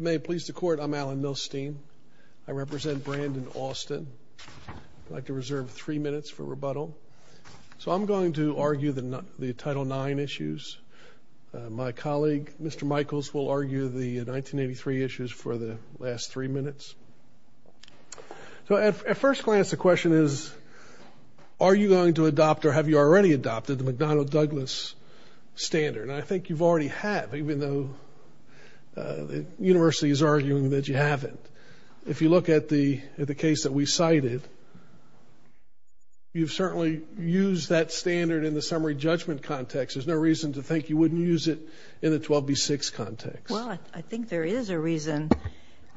May it please the court I'm Alan Milstein. I represent Brandon Austin. I'd like to reserve three minutes for rebuttal. So I'm going to argue the title nine issues. My colleague Mr. Michaels will argue the 1983 issues for the last three minutes. So at first glance the question is are you going to adopt or have you already adopted the McDonnell Douglas standard? I think you've already had even though the university is arguing that you haven't. If you look at the the case that we cited you've certainly used that standard in the summary judgment context. There's no reason to think you wouldn't use it in the 12b6 context. Well I think there is a reason.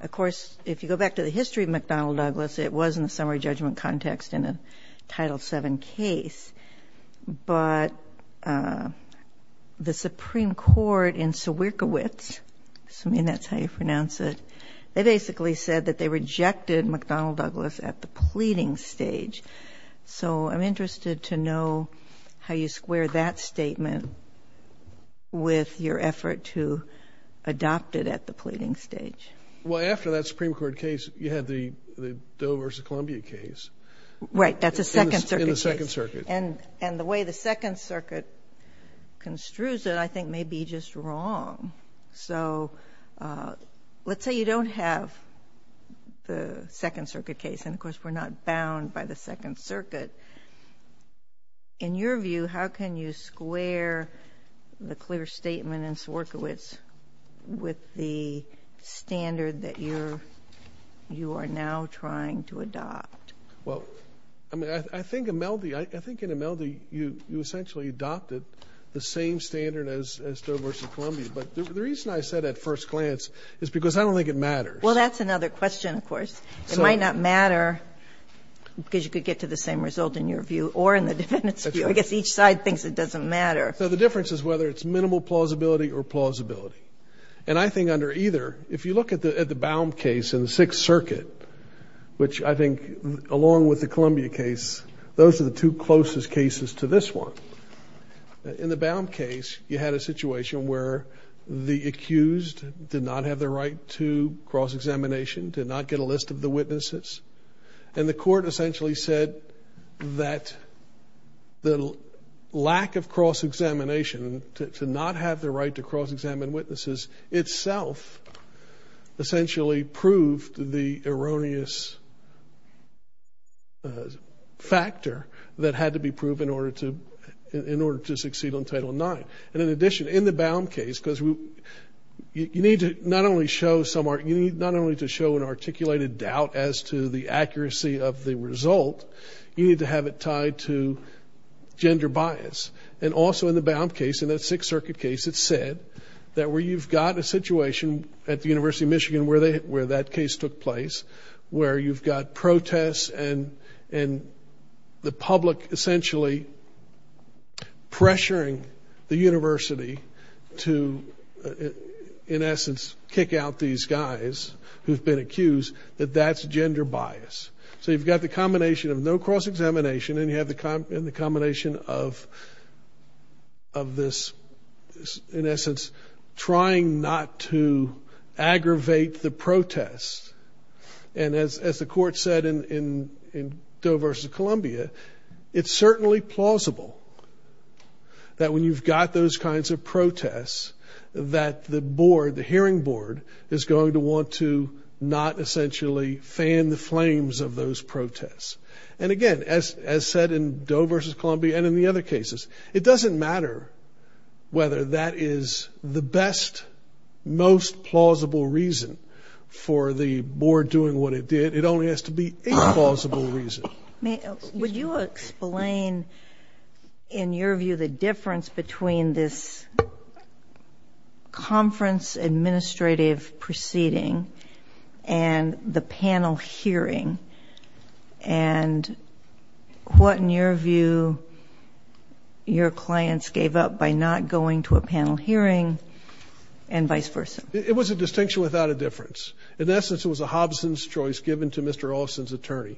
Of course if you go back to the history of McDonnell Douglas it was in the summary judgment context in a title 7 case. But the Supreme Court in Sawierkiewicz, I mean that's how you pronounce it, they basically said that they rejected McDonnell Douglas at the pleading stage. So I'm interested to know how you square that statement with your effort to adopt it at the pleading stage. Well after that Supreme Court case you had the Doe v. Columbia case. Right that's a second circuit case. And the way the Second Circuit construes it I think may be just wrong. So let's say you don't have the Second Circuit case and of course we're not bound by the Second Circuit. In your view how can you square the clear statement in Sawierkiewicz with the standard that you're you are now trying to adopt? Well I mean I think in Imeldi you essentially adopted the same standard as Doe v. Columbia. But the reason I said at first glance is because I don't think it matters. Well that's another question of course. It might not matter because you could get to the same result in your view or in the defendant's view. I guess each side thinks it doesn't matter. So the difference is whether it's minimal plausibility or plausibility. And I think under either if you look at the at the Baum case in the Sixth those are the two closest cases to this one. In the Baum case you had a situation where the accused did not have the right to cross-examination, did not get a list of the witnesses. And the court essentially said that the lack of cross-examination to not have the right to cross-examine witnesses itself essentially proved the erroneous factor that had to be proven in order to in order to succeed on Title IX. And in addition in the Baum case because we you need to not only show some art you need not only to show an articulated doubt as to the accuracy of the result, you need to have it tied to gender bias. And also in the Baum case in that Sixth Circuit case it said that where you've got a situation at the University of Michigan where that case took place, where you've got protests and and the public essentially pressuring the university to in essence kick out these guys who've been accused that that's gender bias. So you've got the combination of no cross-examination and you have the to aggravate the protest. And as the court said in Doe versus Columbia, it's certainly plausible that when you've got those kinds of protests that the board, the hearing board, is going to want to not essentially fan the flames of those protests. And again as said in Doe versus Columbia and in the other cases, it only has to be a plausible reason for the board doing what it did. It only has to be a plausible reason. Would you explain in your view the difference between this conference administrative proceeding and the panel hearing and what in your view your clients gave up by not going to a panel hearing and vice versa? It was a distinction without a difference. In essence it was a Hobson's choice given to Mr. Olson's attorney.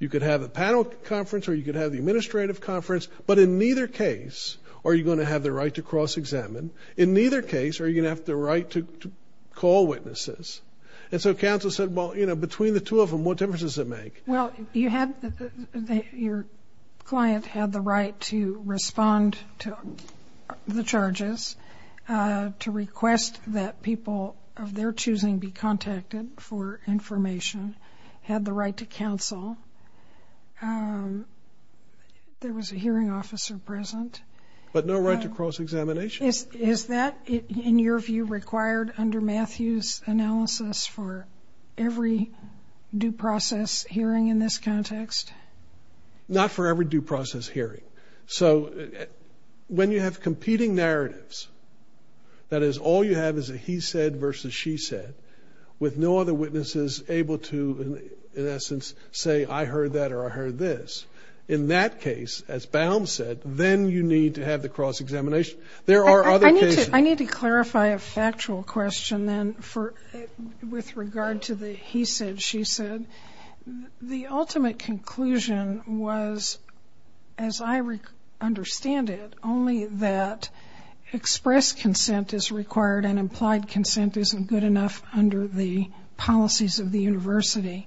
You could have a panel conference or you could have the administrative conference, but in neither case are you going to have the right to cross-examine. In neither case are you going to have the right to call witnesses. And so counsel said well you know between the two of them what difference does it make? Well you had your client had the right to people of their choosing be contacted for information, had the right to counsel. There was a hearing officer present. But no right to cross-examination. Is that in your view required under Matthew's analysis for every due process hearing in this context? Not for every due process hearing. So when you have he said versus she said with no other witnesses able to in essence say I heard that or I heard this. In that case as Baum said then you need to have the cross-examination. There are other cases. I need to clarify a factual question then for with regard to the he said she said. The ultimate conclusion was as I understand it only that express consent is required and implied consent isn't good enough under the policies of the University.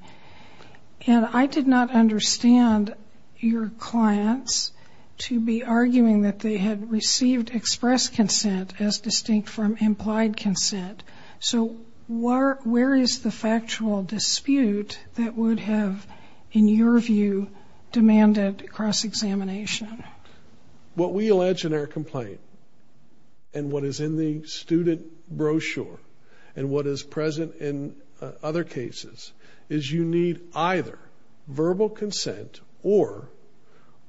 And I did not understand your clients to be arguing that they had received express consent as distinct from implied consent. So where is the factual dispute that would have in your view demanded cross-examination? What we allege in our complaint and what is in the student brochure and what is present in other cases is you need either verbal consent or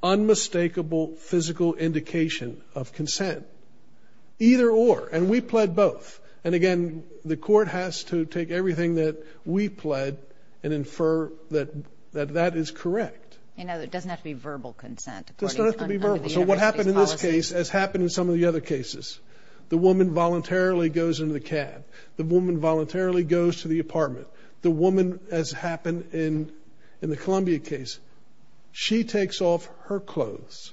unmistakable physical indication of consent. Either or and we pled both. And again the court has to take everything that we pled and that is correct. You know it doesn't have to be verbal consent. It doesn't have to be verbal. So what happened in this case as happened in some of the other cases. The woman voluntarily goes into the cab. The woman voluntarily goes to the apartment. The woman as happened in in the Columbia case she takes off her clothes.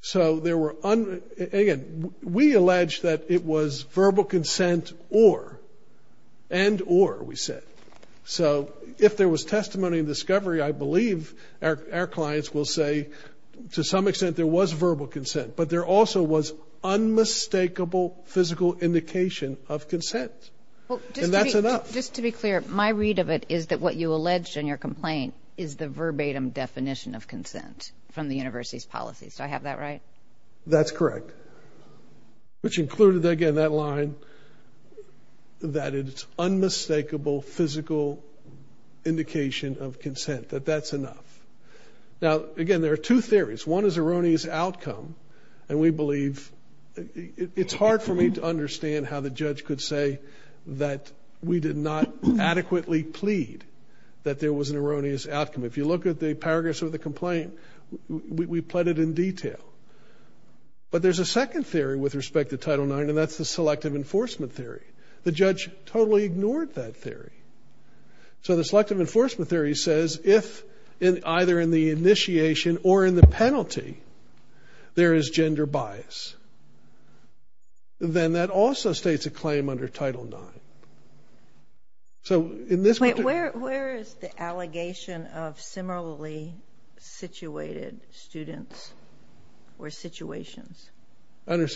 So there were again we allege that it was verbal testimony of discovery I believe our clients will say to some extent there was verbal consent but there also was unmistakable physical indication of consent. And that's enough. Just to be clear my read of it is that what you alleged in your complaint is the verbatim definition of consent from the University's policies. Do I have that right? That's correct. Which included again that line that it's unmistakable physical indication of consent. That that's enough. Now again there are two theories. One is erroneous outcome and we believe it's hard for me to understand how the judge could say that we did not adequately plead that there was an erroneous outcome. If you look at the paragraphs of the complaint we pled it in detail. But there's a second theory with respect to Title IX and that's the selective enforcement theory. The judge totally ignored that theory. So the selective enforcement theory says if in either in the initiation or in the penalty there is gender bias then that also states a claim under Title IX. So in this way where is the allegation of similarly situated students or situations? I When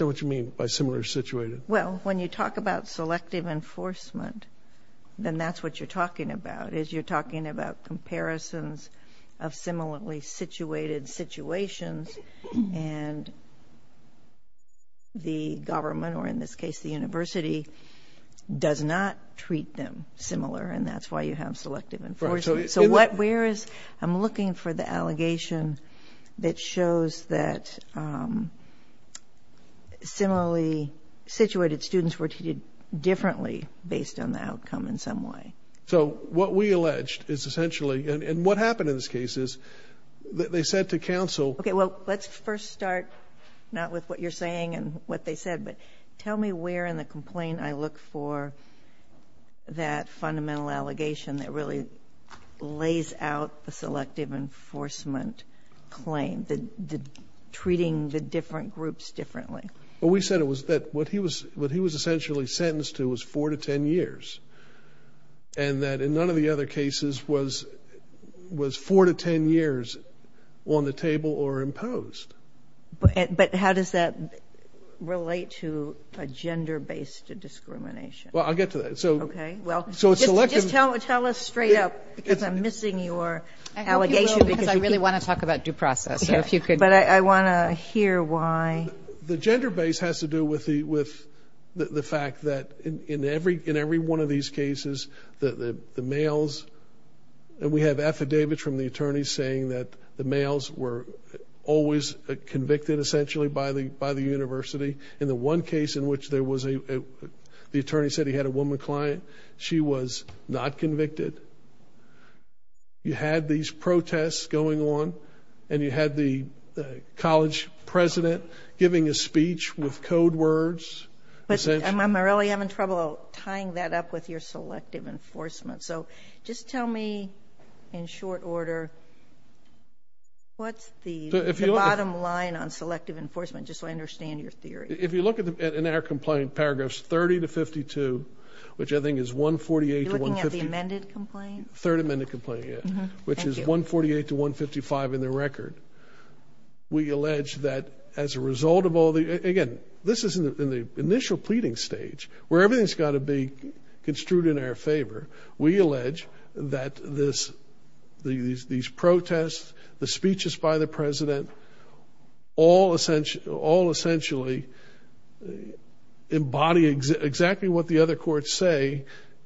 you talk about selective enforcement then that's what you're talking about is you're talking about comparisons of similarly situated situations and the government or in this case the University does not treat them similar and that's why you have selective enforcement. So what where is I'm looking for the allegation that shows that similarly situated students were treated differently based on the outcome in some way. So what we alleged is essentially and what happened in this case is that they said to counsel. Okay well let's first start not with what you're saying and what they said but tell me where in the complaint I look for that fundamental allegation that really lays out the selective enforcement claim. The treating the different groups differently. Well we said it was that what he was what he was essentially sentenced to was four to ten years and that in none of the other cases was was four to ten years on the table or imposed. But how does that relate to a gender-based discrimination? Well I'll get to that. So okay well just tell us straight up because I'm really want to talk about due process. Yeah if you could. But I want to hear why. The gender base has to do with the with the fact that in every in every one of these cases that the males and we have affidavits from the attorneys saying that the males were always convicted essentially by the by the University. In the one case in which there was a the attorney said he had a woman client she was not convicted. You had these protests going on and you had the college president giving a speech with code words. I'm really having trouble tying that up with your selective enforcement. So just tell me in short order what's the bottom line on selective enforcement just so I understand your theory. If you looking at the amended complaint? Third amended complaint yeah. Which is 148 to 155 in the record. We allege that as a result of all the again this isn't in the initial pleading stage where everything's got to be construed in our favor. We allege that this these these protests the speeches by the president all essentially all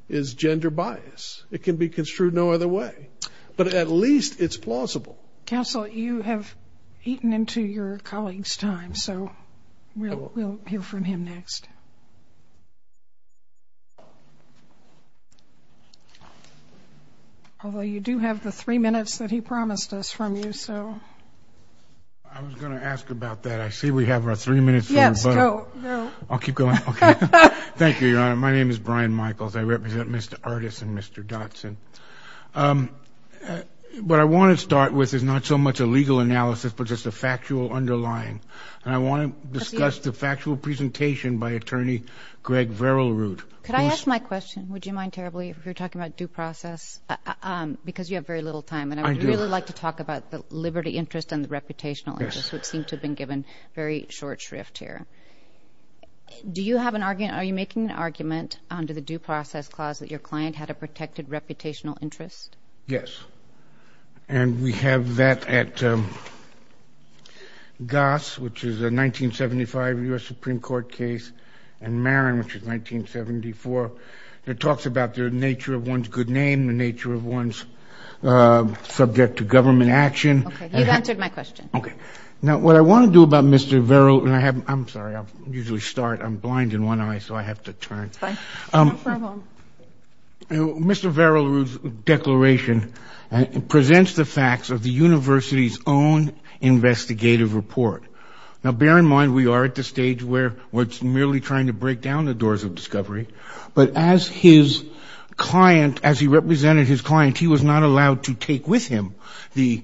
is gender bias. It can be construed no other way but at least it's plausible. Counsel you have eaten into your colleagues time so we'll hear from him next. Although you do have the three minutes that he promised us from you so I was gonna ask about that. I see we have our three minutes. I'll keep going okay Thank You Your Honor. My name is Brian Michaels. I represent Mr. Artis and Mr. Dotson. What I want to start with is not so much a legal analysis but just a factual underlying and I want to discuss the factual presentation by attorney Greg Verilroot. Could I ask my question would you mind terribly if you're talking about due process because you have very little time and I'd really like to talk about the liberty interest and the reputational interest would seem to have been given very short shrift here. Do you have an argument are you making an argument under the due process clause that your client had a protected reputational interest? Yes and we have that at Goss which is a 1975 US Supreme Court case and Marin which is 1974. It talks about the nature of one's good name, the nature of one's subject to government action. You've answered my question. What I want to do about Mr. Verilroot and I have I'm sorry I usually start I'm blind in one eye so I have to turn. Mr. Verilroot's declaration presents the facts of the university's own investigative report. Now bear in mind we are at the stage where what's merely trying to break down the doors of discovery but as his client as he represented his client he was not allowed to take with him the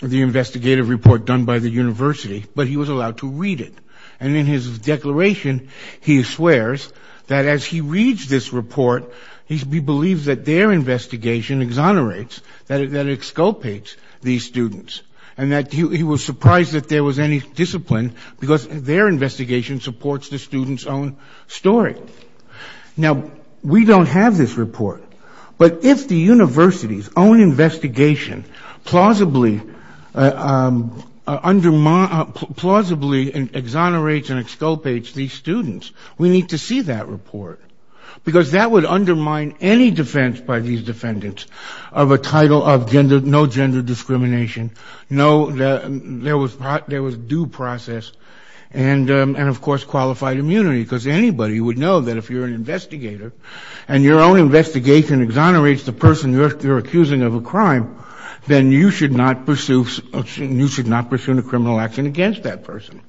the investigative report done by the university but he was allowed to read it and in his declaration he swears that as he reads this report he believes that their investigation exonerates that it exculpates these students and that he was surprised that there was any discipline because their investigation supports the students own story. Now we don't have this report but if the university's own investigation plausibly exonerates and exculpates these students we need to see that report because that would undermine any defense by these defendants of a title of no gender discrimination, no there was due process and of course qualified immunity because anybody would know that if you're an and your own investigation exonerates the person you're accusing of a crime then you should not pursue a criminal action against that person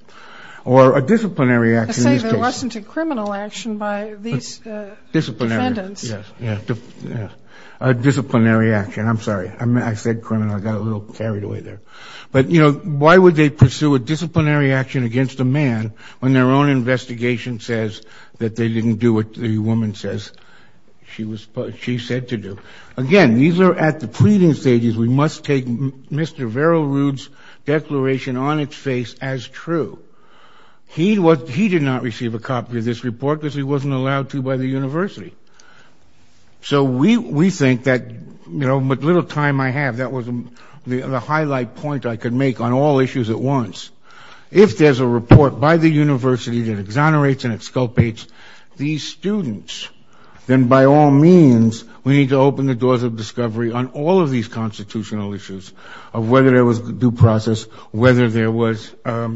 or a disciplinary action in this case. I say there wasn't a criminal action by these defendants. A disciplinary action I'm sorry I said criminal I got a little carried away there but you know why would they pursue a disciplinary action against a man when their own she said to do. Again these are at the pleading stages we must take Mr. Vero Rude's declaration on its face as true. He did not receive a copy of this report because he wasn't allowed to by the university. So we think that you know with little time I have that was the highlight point I could make on all issues at once. If there's a report by the university that exonerates and by all means we need to open the doors of discovery on all of these constitutional issues of whether there was due process whether there was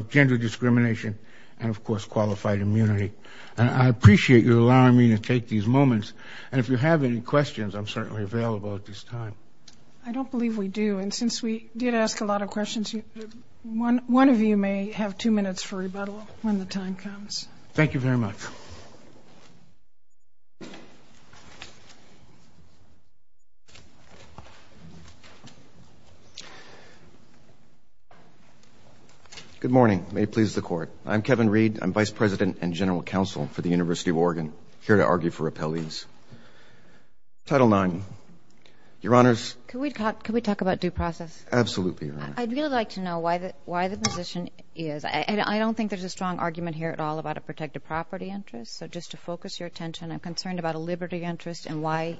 gender discrimination and of course qualified immunity. I appreciate you allowing me to take these moments and if you have any questions I'm certainly available at this time. I don't believe we do and since we did ask a lot of questions one one of you may have two minutes for rebuttal when the time comes. Thank you very much. Good morning may please the court I'm Kevin Reed I'm vice president and general counsel for the University of Oregon here to argue for repellees. Title nine. Your honors. Can we talk about due process? Absolutely. I'd really like to know why that why the position is and I don't think there's a strong argument here at all about a protected property interest so just to answer the question of why there's no liberty interest and why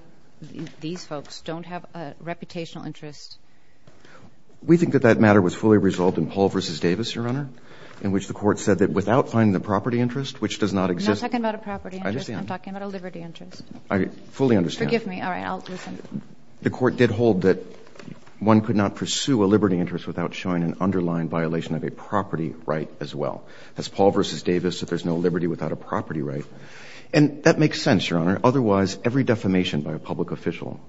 these folks don't have a reputational interest. We think that that matter was fully resolved in Paul versus Davis your honor in which the court said that without finding the property interest which does not exist. I'm not talking about a property interest I'm talking about a liberty interest. I fully understand. Forgive me all right I'll listen. The court did hold that one could not pursue a liberty interest without showing an underlying violation of a property right as well. Has Paul versus Davis. The question was every defamation by a public official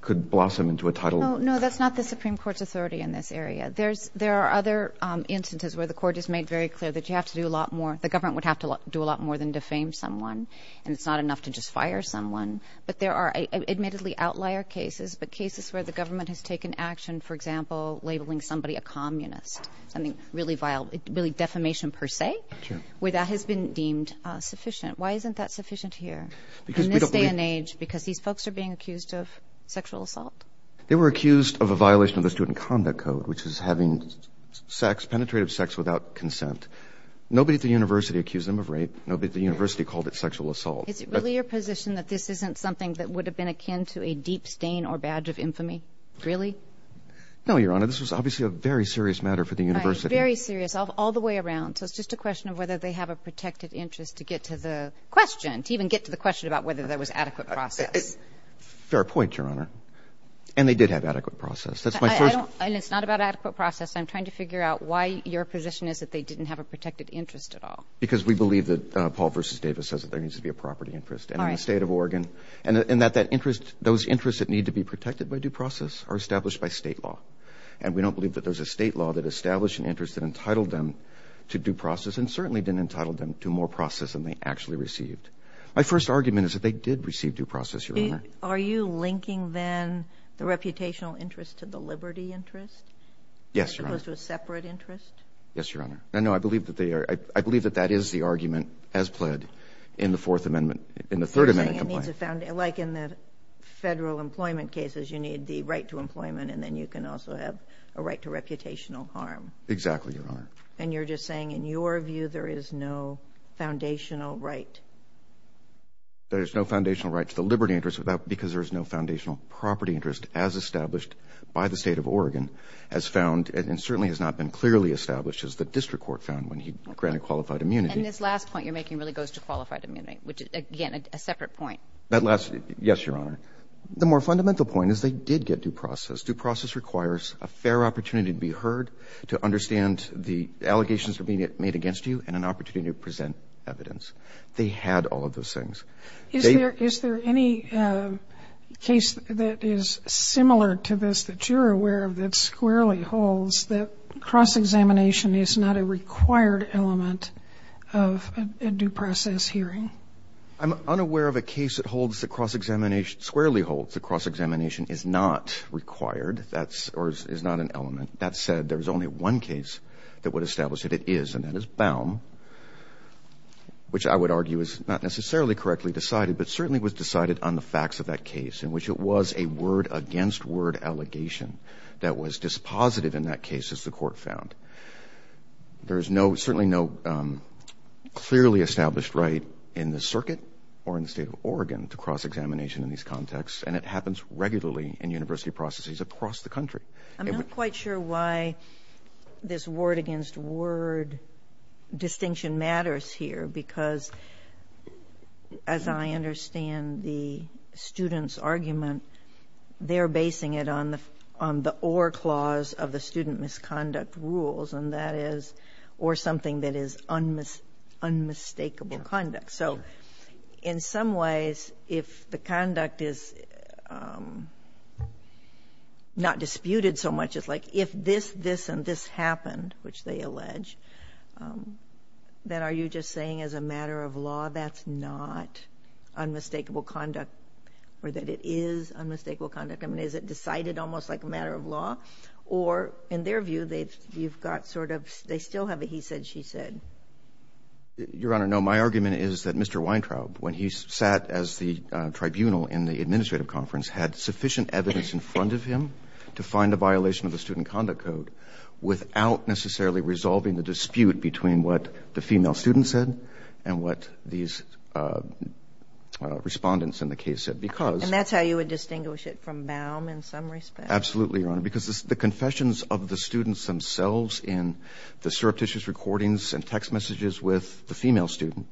could blossom into a title. No that's not the Supreme Court's authority in this area. There's there are other instances where the court is made very clear that you have to do a lot more the government would have to do a lot more than defame someone and it's not enough to just fire someone but there are admittedly outlier cases but cases where the government has taken action for example labeling somebody a communist something really vile really defamation per se where that has been deemed sufficient. Why isn't that sufficient here in this day and age because these folks are being accused of sexual assault. They were accused of a violation of the student conduct code which is having penetrative sex without consent. Nobody at the university accused them of rape. Nobody at the university called it sexual assault. Is it really your position that this isn't something that would have been akin to a deep stain or badge of infamy? Really? No your honor this was obviously a very serious matter for the university. Very serious all the way around so it's just a question of whether they have a protected interest to get to the question to even get to the question about whether there was adequate process. Fair point your honor and they did have adequate process. That's my first. And it's not about adequate process I'm trying to figure out why your position is that they didn't have a protected interest at all. Because we believe that Paul versus Davis says that there needs to be a property interest and in the state of Oregon and that that interest those interests that need to be protected by due process are established by state law and we don't believe that there's a state law that established an interest that entitled them to due process and certainly didn't entitled them to more process than they actually received. My first argument is that they did receive due process your honor. Are you linking then the reputational interest to the liberty interest? Yes your honor. As opposed to a separate interest? Yes your honor I know I believe that they are I believe that that is the argument as pled in the fourth amendment in the third amendment complaint. Like in the federal employment cases you need the right to employment and then you can also have a right to reputational harm. Exactly your honor. And you're just saying in your view there is no foundational right? There's no foundational right to the liberty interest without because there is no foundational property interest as established by the state of Oregon as found and certainly has not been clearly established as the district court found when he granted qualified immunity. And this last point you're making really goes to qualified immunity which again a separate point. That last yes your honor. The more fundamental point is they did get due process. Due process requires a fair opportunity to be heard to understand the and an opportunity to present evidence. They had all of those things. Is there is there any case that is similar to this that you're aware of that squarely holds that cross-examination is not a required element of a due process hearing? I'm unaware of a case that holds the cross-examination squarely holds the cross-examination is not required that's or is not an element. That said there's only one case that would establish that it is and that is Baum which I would argue is not necessarily correctly decided but certainly was decided on the facts of that case in which it was a word against word allegation that was dispositive in that case as the court found. There is no certainly no clearly established right in the circuit or in the state of Oregon to cross-examination in these contexts and it happens regularly in university processes across the country. I'm not quite sure why this word against word distinction matters here because as I understand the students argument they're basing it on the on the or clause of the student misconduct rules and that is or something that is unmistakable conduct. So in some ways if the conduct is not disputed so much it's like if this this and this happened which they allege that are you just saying as a matter of law that's not unmistakable conduct or that it is unmistakable conduct I mean is it decided almost like a matter of law or in their view they've you've got sort of they still have a he said she said. Your Honor no my argument is that Mr. Weintraub when he sat as the tribunal in the administrative conference had sufficient evidence in front of him to find a violation of the Student Conduct Code without necessarily resolving the dispute between what the female student said and what these respondents in the case said because. And that's how you would distinguish it from Baum in some respect. Absolutely Your Honor because the confessions of the students themselves in the surreptitious recordings and text messages with the female student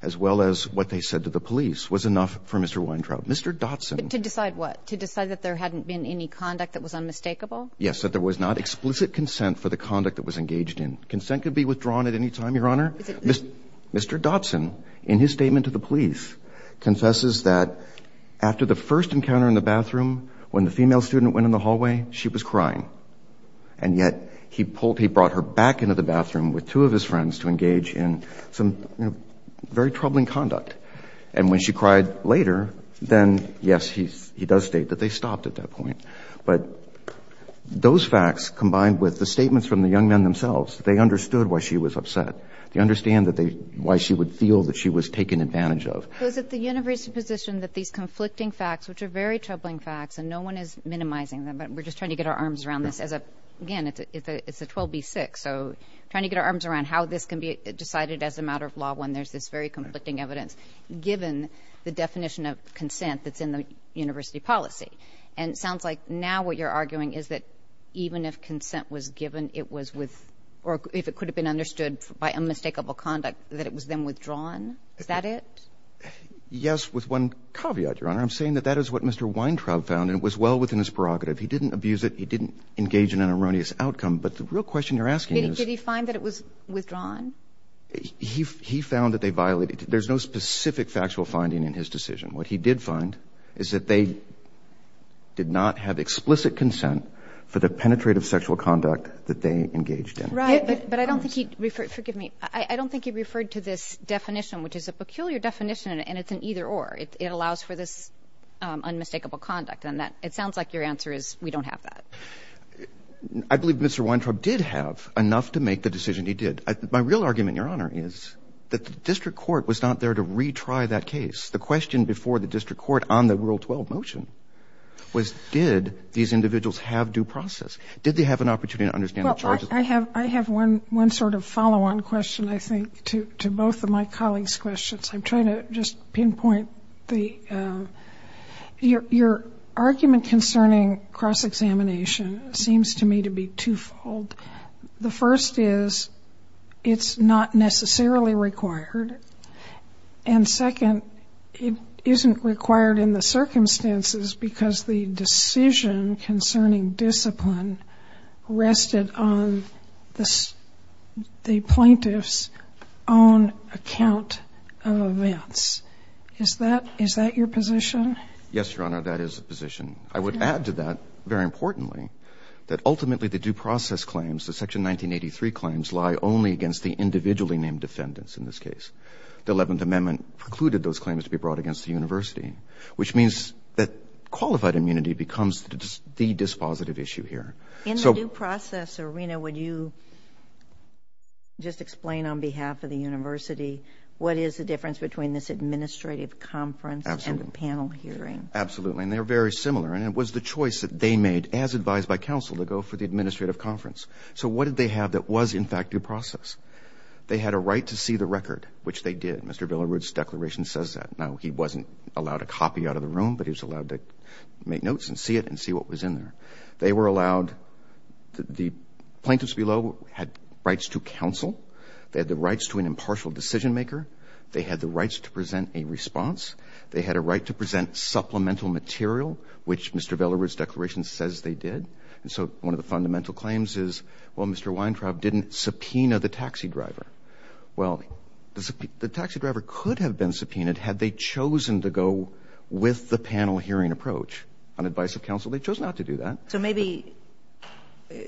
as well as what they said to the police was enough for Mr. Weintraub. Mr. Dotson. To decide what? To decide that there hadn't been any conduct that was unmistakable? Yes that there was not explicit consent for the conduct that was engaged in. Consent could be withdrawn at any time Your Honor. Mr. Dotson in his statement to the police confesses that after the first encounter in the bathroom when the female student went in the hallway she was crying and yet he pulled he brought her back into the bathroom with two of his friends to then yes he's he does state that they stopped at that point but those facts combined with the statements from the young men themselves they understood why she was upset. They understand that they why she would feel that she was taken advantage of. Was it the university position that these conflicting facts which are very troubling facts and no one is minimizing them but we're just trying to get our arms around this as a again it's a 12b6 so trying to get our arms around how this can be decided as a matter of law when there's this very consent that's in the university policy and it sounds like now what you're arguing is that even if consent was given it was with or if it could have been understood by unmistakable conduct that it was then withdrawn is that it? Yes with one caveat Your Honor. I'm saying that that is what Mr. Weintraub found and it was well within his prerogative. He didn't abuse it. He didn't engage in an erroneous outcome but the real question you're asking. Did he find that it was withdrawn? He found that they violated there's no specific factual finding in his decision. What he did find is that they did not have explicit consent for the penetrative sexual conduct that they engaged in right but I don't think he referred forgive me I don't think he referred to this definition which is a peculiar definition and it's an either-or it allows for this unmistakable conduct and that it sounds like your answer is we don't have that. I believe Mr. Weintraub did have enough to make the decision he did. My real argument Your Honor is that the district court was not there to retry that case. The question before the district court on the Rule 12 motion was did these individuals have due process? Did they have an opportunity to understand the charges? I have I have one one sort of follow-on question I think to to both of my colleagues questions. I'm trying to just pinpoint the your argument concerning cross-examination seems to me to be twofold. The first is it's not necessarily required and second it isn't required in the circumstances because the decision concerning discipline rested on this the plaintiffs own account of events. Is that is that your position? Yes Your Honor that is a position. I would add to that very importantly that ultimately the due process claims the section 1983 claims lie only against the individually named defendants in this case. The 11th precluded those claims to be brought against the University which means that qualified immunity becomes the dispositive issue here. In the due process arena would you just explain on behalf of the University what is the difference between this administrative conference and the panel hearing? Absolutely and they're very similar and it was the choice that they made as advised by counsel to go for the administrative conference. So what did they have that was in fact due process? They had a right to see the record which they did. Mr. Billerud's declaration says that. Now he wasn't allowed a copy out of the room but he was allowed to make notes and see it and see what was in there. They were allowed the plaintiffs below had rights to counsel. They had the rights to an impartial decision-maker. They had the rights to present a response. They had a right to present supplemental material which Mr. Billerud's declaration says they did and so one of the fundamental claims is well Mr. Weintraub didn't subpoena the taxi driver. Well the taxi driver could have been subpoenaed had they chosen to go with the panel hearing approach on advice of counsel. They chose not to do that. So maybe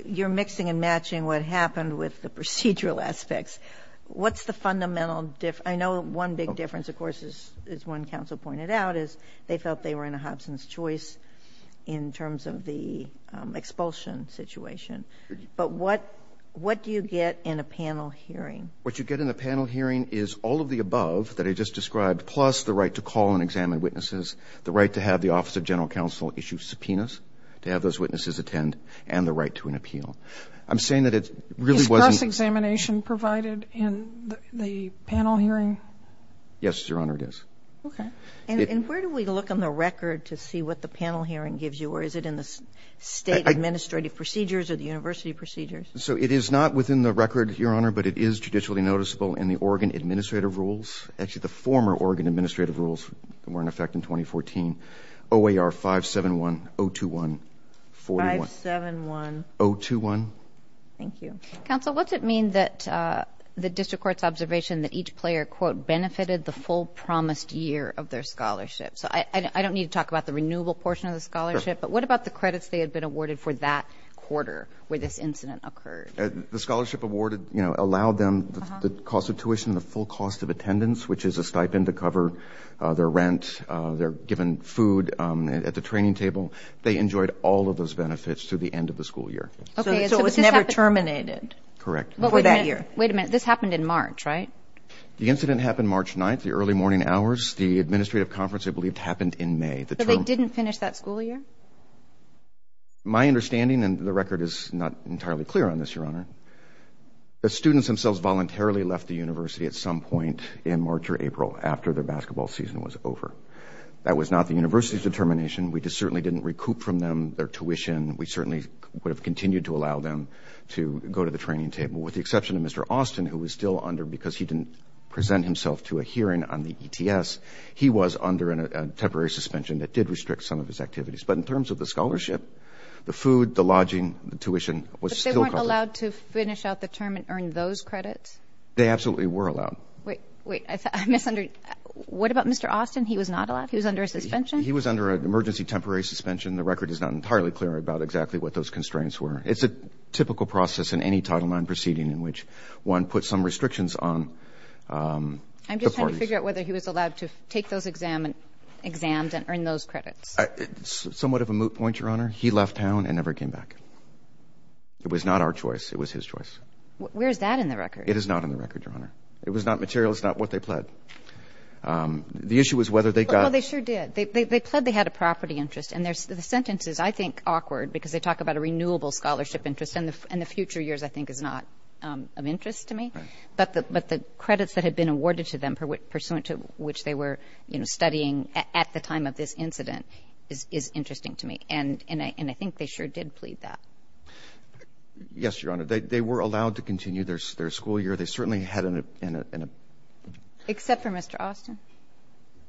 you're mixing and matching what happened with the procedural aspects. What's the fundamental difference? I know one big difference of course is one counsel pointed out is they felt they were in a Hobson's choice in terms of the expulsion situation. But what what do you get in a panel hearing? What you get in the panel hearing is all of the above that I just described plus the right to call and examine witnesses, the right to have the Office of General Counsel issue subpoenas to have those witnesses attend, and the right to an appeal. I'm saying that it really wasn't... Is cross-examination provided in the panel hearing? Yes, Your Honor, it is. Okay. And where do we look on the record to see what the panel hearing gives you? Or is it in the state administrative procedures or the university procedures? So it is not within the record, Your Honor, but it is judicially noticeable in the Oregon Administrative Rules. Actually, the former Oregon Administrative Rules were in effect in 2014. OAR 571, 021, 41. 571. 021. Thank you. Counsel, what's it mean that the district court's observation that each player, quote, benefited the full promised year of their scholarship? So I don't need to talk about the renewable portion of the scholarship, but what about the credits they had been awarded for that quarter where this incident occurred? The scholarship awarded, you know, allowed them the cost of tuition, the full cost of attendance, which is a stipend to cover their rent, they're given food at the training table. They enjoyed all of those benefits through the end of the school year. Okay, so it was never terminated? Correct. Before that year? Wait a minute, this happened in March, right? The incident happened March 9th, the early morning hours. The administrative conference, I believed, happened in May. But they didn't finish that school year? My understanding, and the record is not entirely clear on this, Your Honor, the students themselves voluntarily left the university at some point in March or April after their basketball season was over. That was not the university's determination. We just certainly didn't recoup from them their tuition. We certainly would have continued to allow them to go to the training table, with the exception of Mr. Austin, who was still under because he didn't present himself to a hearing on the ETS. He was under a temporary suspension that did restrict some of his activities. But in terms of the scholarship, the food, the lodging, the tuition was still covered. But they weren't allowed to finish out the term and earn those credits? They absolutely were allowed. Wait, I misunderstood. What about Mr. Austin? He was not allowed? He was under a suspension? He was under an emergency temporary suspension. The record is not entirely clear about exactly what those constraints were. It's a typical process in any Title IX proceeding in which one puts some restrictions on the parties. I'm just trying to figure out whether he was allowed to take those exams and earn those credits. Somewhat of a moot point, Your Honor. He left town and never came back. It was not our choice. It was his choice. Where's that in the record? It is not in the record, Your Honor. It was not material. It's not what they pled. The issue was whether they got... Well, they sure did. They pled they had a property interest. And the sentence is, I think, awkward because they talk about a renewable scholarship interest, and the future years, I think, is not of interest to me. But the credits that had been awarded to them, pursuant to which they were, you know, studying at the time of this incident, is interesting to me. And I think they sure did plead that. Yes, Your Honor. They were allowed to continue their school year. They certainly had an... Except for Mr. Austin.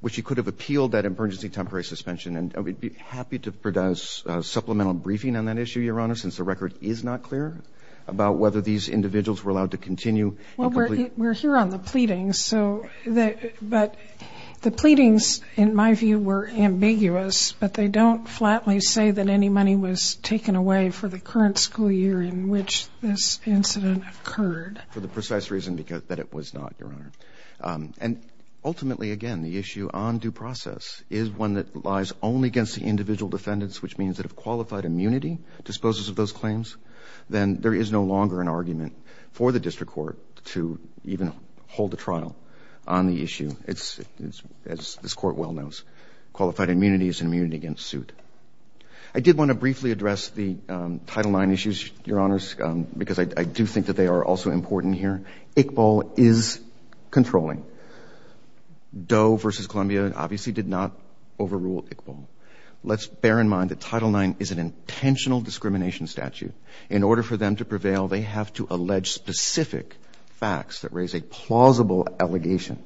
Which he could have appealed that emergency temporary suspension. And we'd be happy to produce a supplemental briefing on that issue, Your Honor, since the record is not clear about whether these individuals were allowed to continue... Well, we're here on the pleadings, so... But the pleadings, in my view, were ambiguous. But they don't flatly say that any money was taken away for the current school year in which this incident occurred. For the precise reason because that it was not, Your Honor. And ultimately, again, the issue on due process is one that lies only against the individual defendants, which means that if qualified immunity disposes of those claims, then there is no longer an issue for the District Court to even hold a trial on the issue. It's, as this Court well knows, qualified immunity is an immunity against suit. I did want to briefly address the Title IX issues, Your Honors, because I do think that they are also important here. Iqbal is controlling. Doe versus Columbia obviously did not overrule Iqbal. Let's bear in mind that Title IX is an intentional discrimination statute. In order for them to prevail, they have to provide specific facts that raise a plausible allegation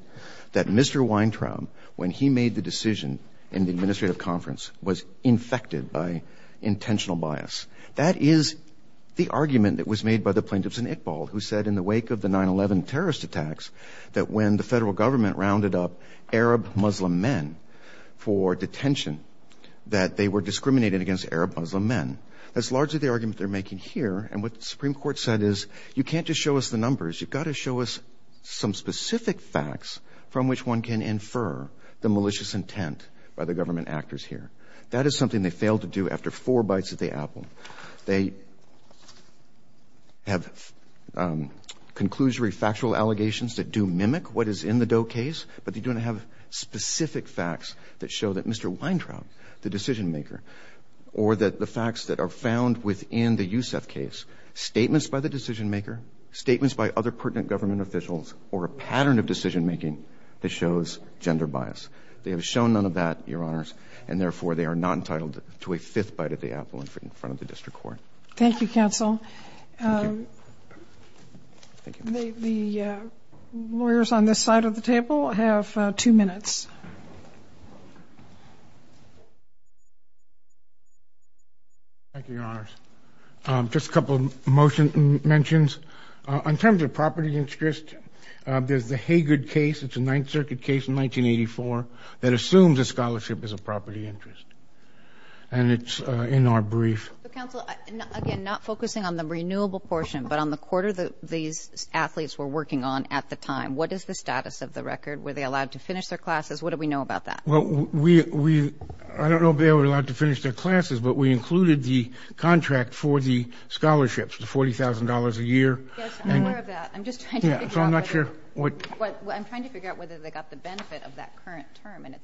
that Mr. Weintraub, when he made the decision in the administrative conference, was infected by intentional bias. That is the argument that was made by the plaintiffs in Iqbal, who said in the wake of the 9-11 terrorist attacks, that when the federal government rounded up Arab Muslim men for detention, that they were discriminated against Arab Muslim men. That's largely the argument they're making. But if you're going to show us numbers, you've got to show us some specific facts from which one can infer the malicious intent by the government actors here. That is something they failed to do after four bites at the apple. They have conclusory factual allegations that do mimic what is in the Doe case, but they don't have specific facts that show that Mr. Weintraub, the decision maker, or that the facts that are found within the Yousef case, statements by the other pertinent government officials or a pattern of decision-making that shows gender bias. They have shown none of that, Your Honors, and therefore they are not entitled to a fifth bite at the apple in front of the district court. Thank you, counsel. Thank you. The lawyers on this side of the table have two minutes. Thank you, Your Honors. Just a couple of motion mentions. In terms of property interest, there's the Haggard case. It's a Ninth Circuit case in 1984 that assumes a scholarship as a property interest. And it's in our brief. Counsel, again, not focusing on the renewable portion, but on the quarter that these athletes were working on at the time. What is the status of the record? Were they allowed to finish their classes? What do we know about that? I don't know if they were allowed to finish their classes, but we included the contract for the scholarships, the $40,000 a year. Yes, I'm aware of that. I'm just trying to figure out whether they got the benefit of that current term, and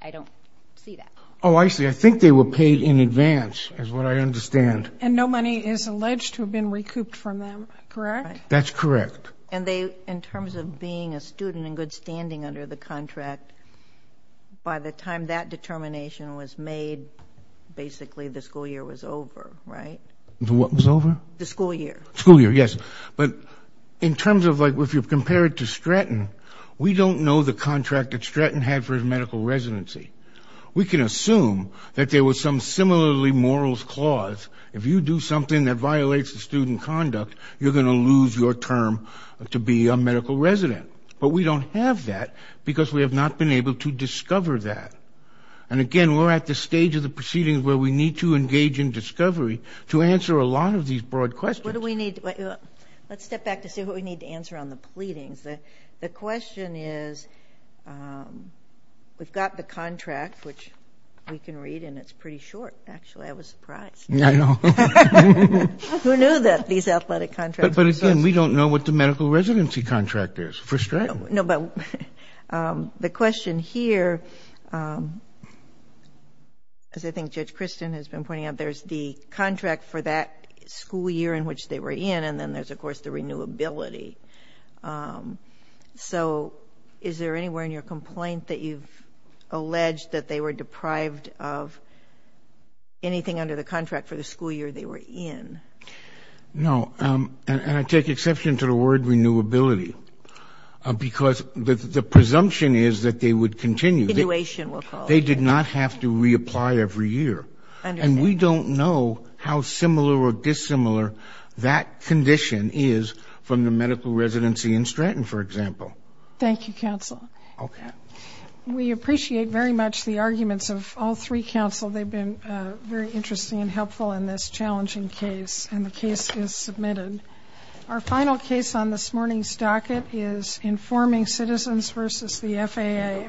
I don't see that. Oh, I see. I think they were paid in advance is what I understand. And no money is alleged to have been recouped from them, correct? That's correct. And they, in terms of being a student and good standing under the contract, by the time that determination was made, basically the school year was over, right? The what was over? The school year. The school year, yes. But in terms of like if you compare it to Stratton, we don't know the contract that Stratton had for his medical residency. We can assume that there was some similarly morals clause. If you do something that violates the student conduct, you're going to lose your term to be a medical resident. But we don't have that because we have not been able to discover that. And, again, we're at the stage of the proceedings where we need to engage in discovery to answer a lot of these broad questions. Let's step back to see what we need to answer on the pleadings. The question is we've got the contract, which we can read, and it's pretty short. Actually, I was surprised. I know. Who knew that these athletic contracts existed? But, again, we don't know what the medical residency contract is for Stratton. No, but the question here, as I think Judge Kristen has been pointing out, there's the contract for that school year in which they were in, and then there's, of course, the renewability. So is there anywhere in your complaint that you've alleged that they were deprived of anything under the contract for the school year they were in? No, and I take exception to the word renewability because the presumption is that they would continue. Renewation, we'll call it. They did not have to reapply every year. And we don't know how similar or dissimilar that condition is from the medical residency in Stratton, for example. Thank you, counsel. Okay. We appreciate very much the arguments of all three counsel. They've been very interesting and helpful in this challenging case, and the case is submitted. Our final case on this morning's docket is informing citizens versus the FAA.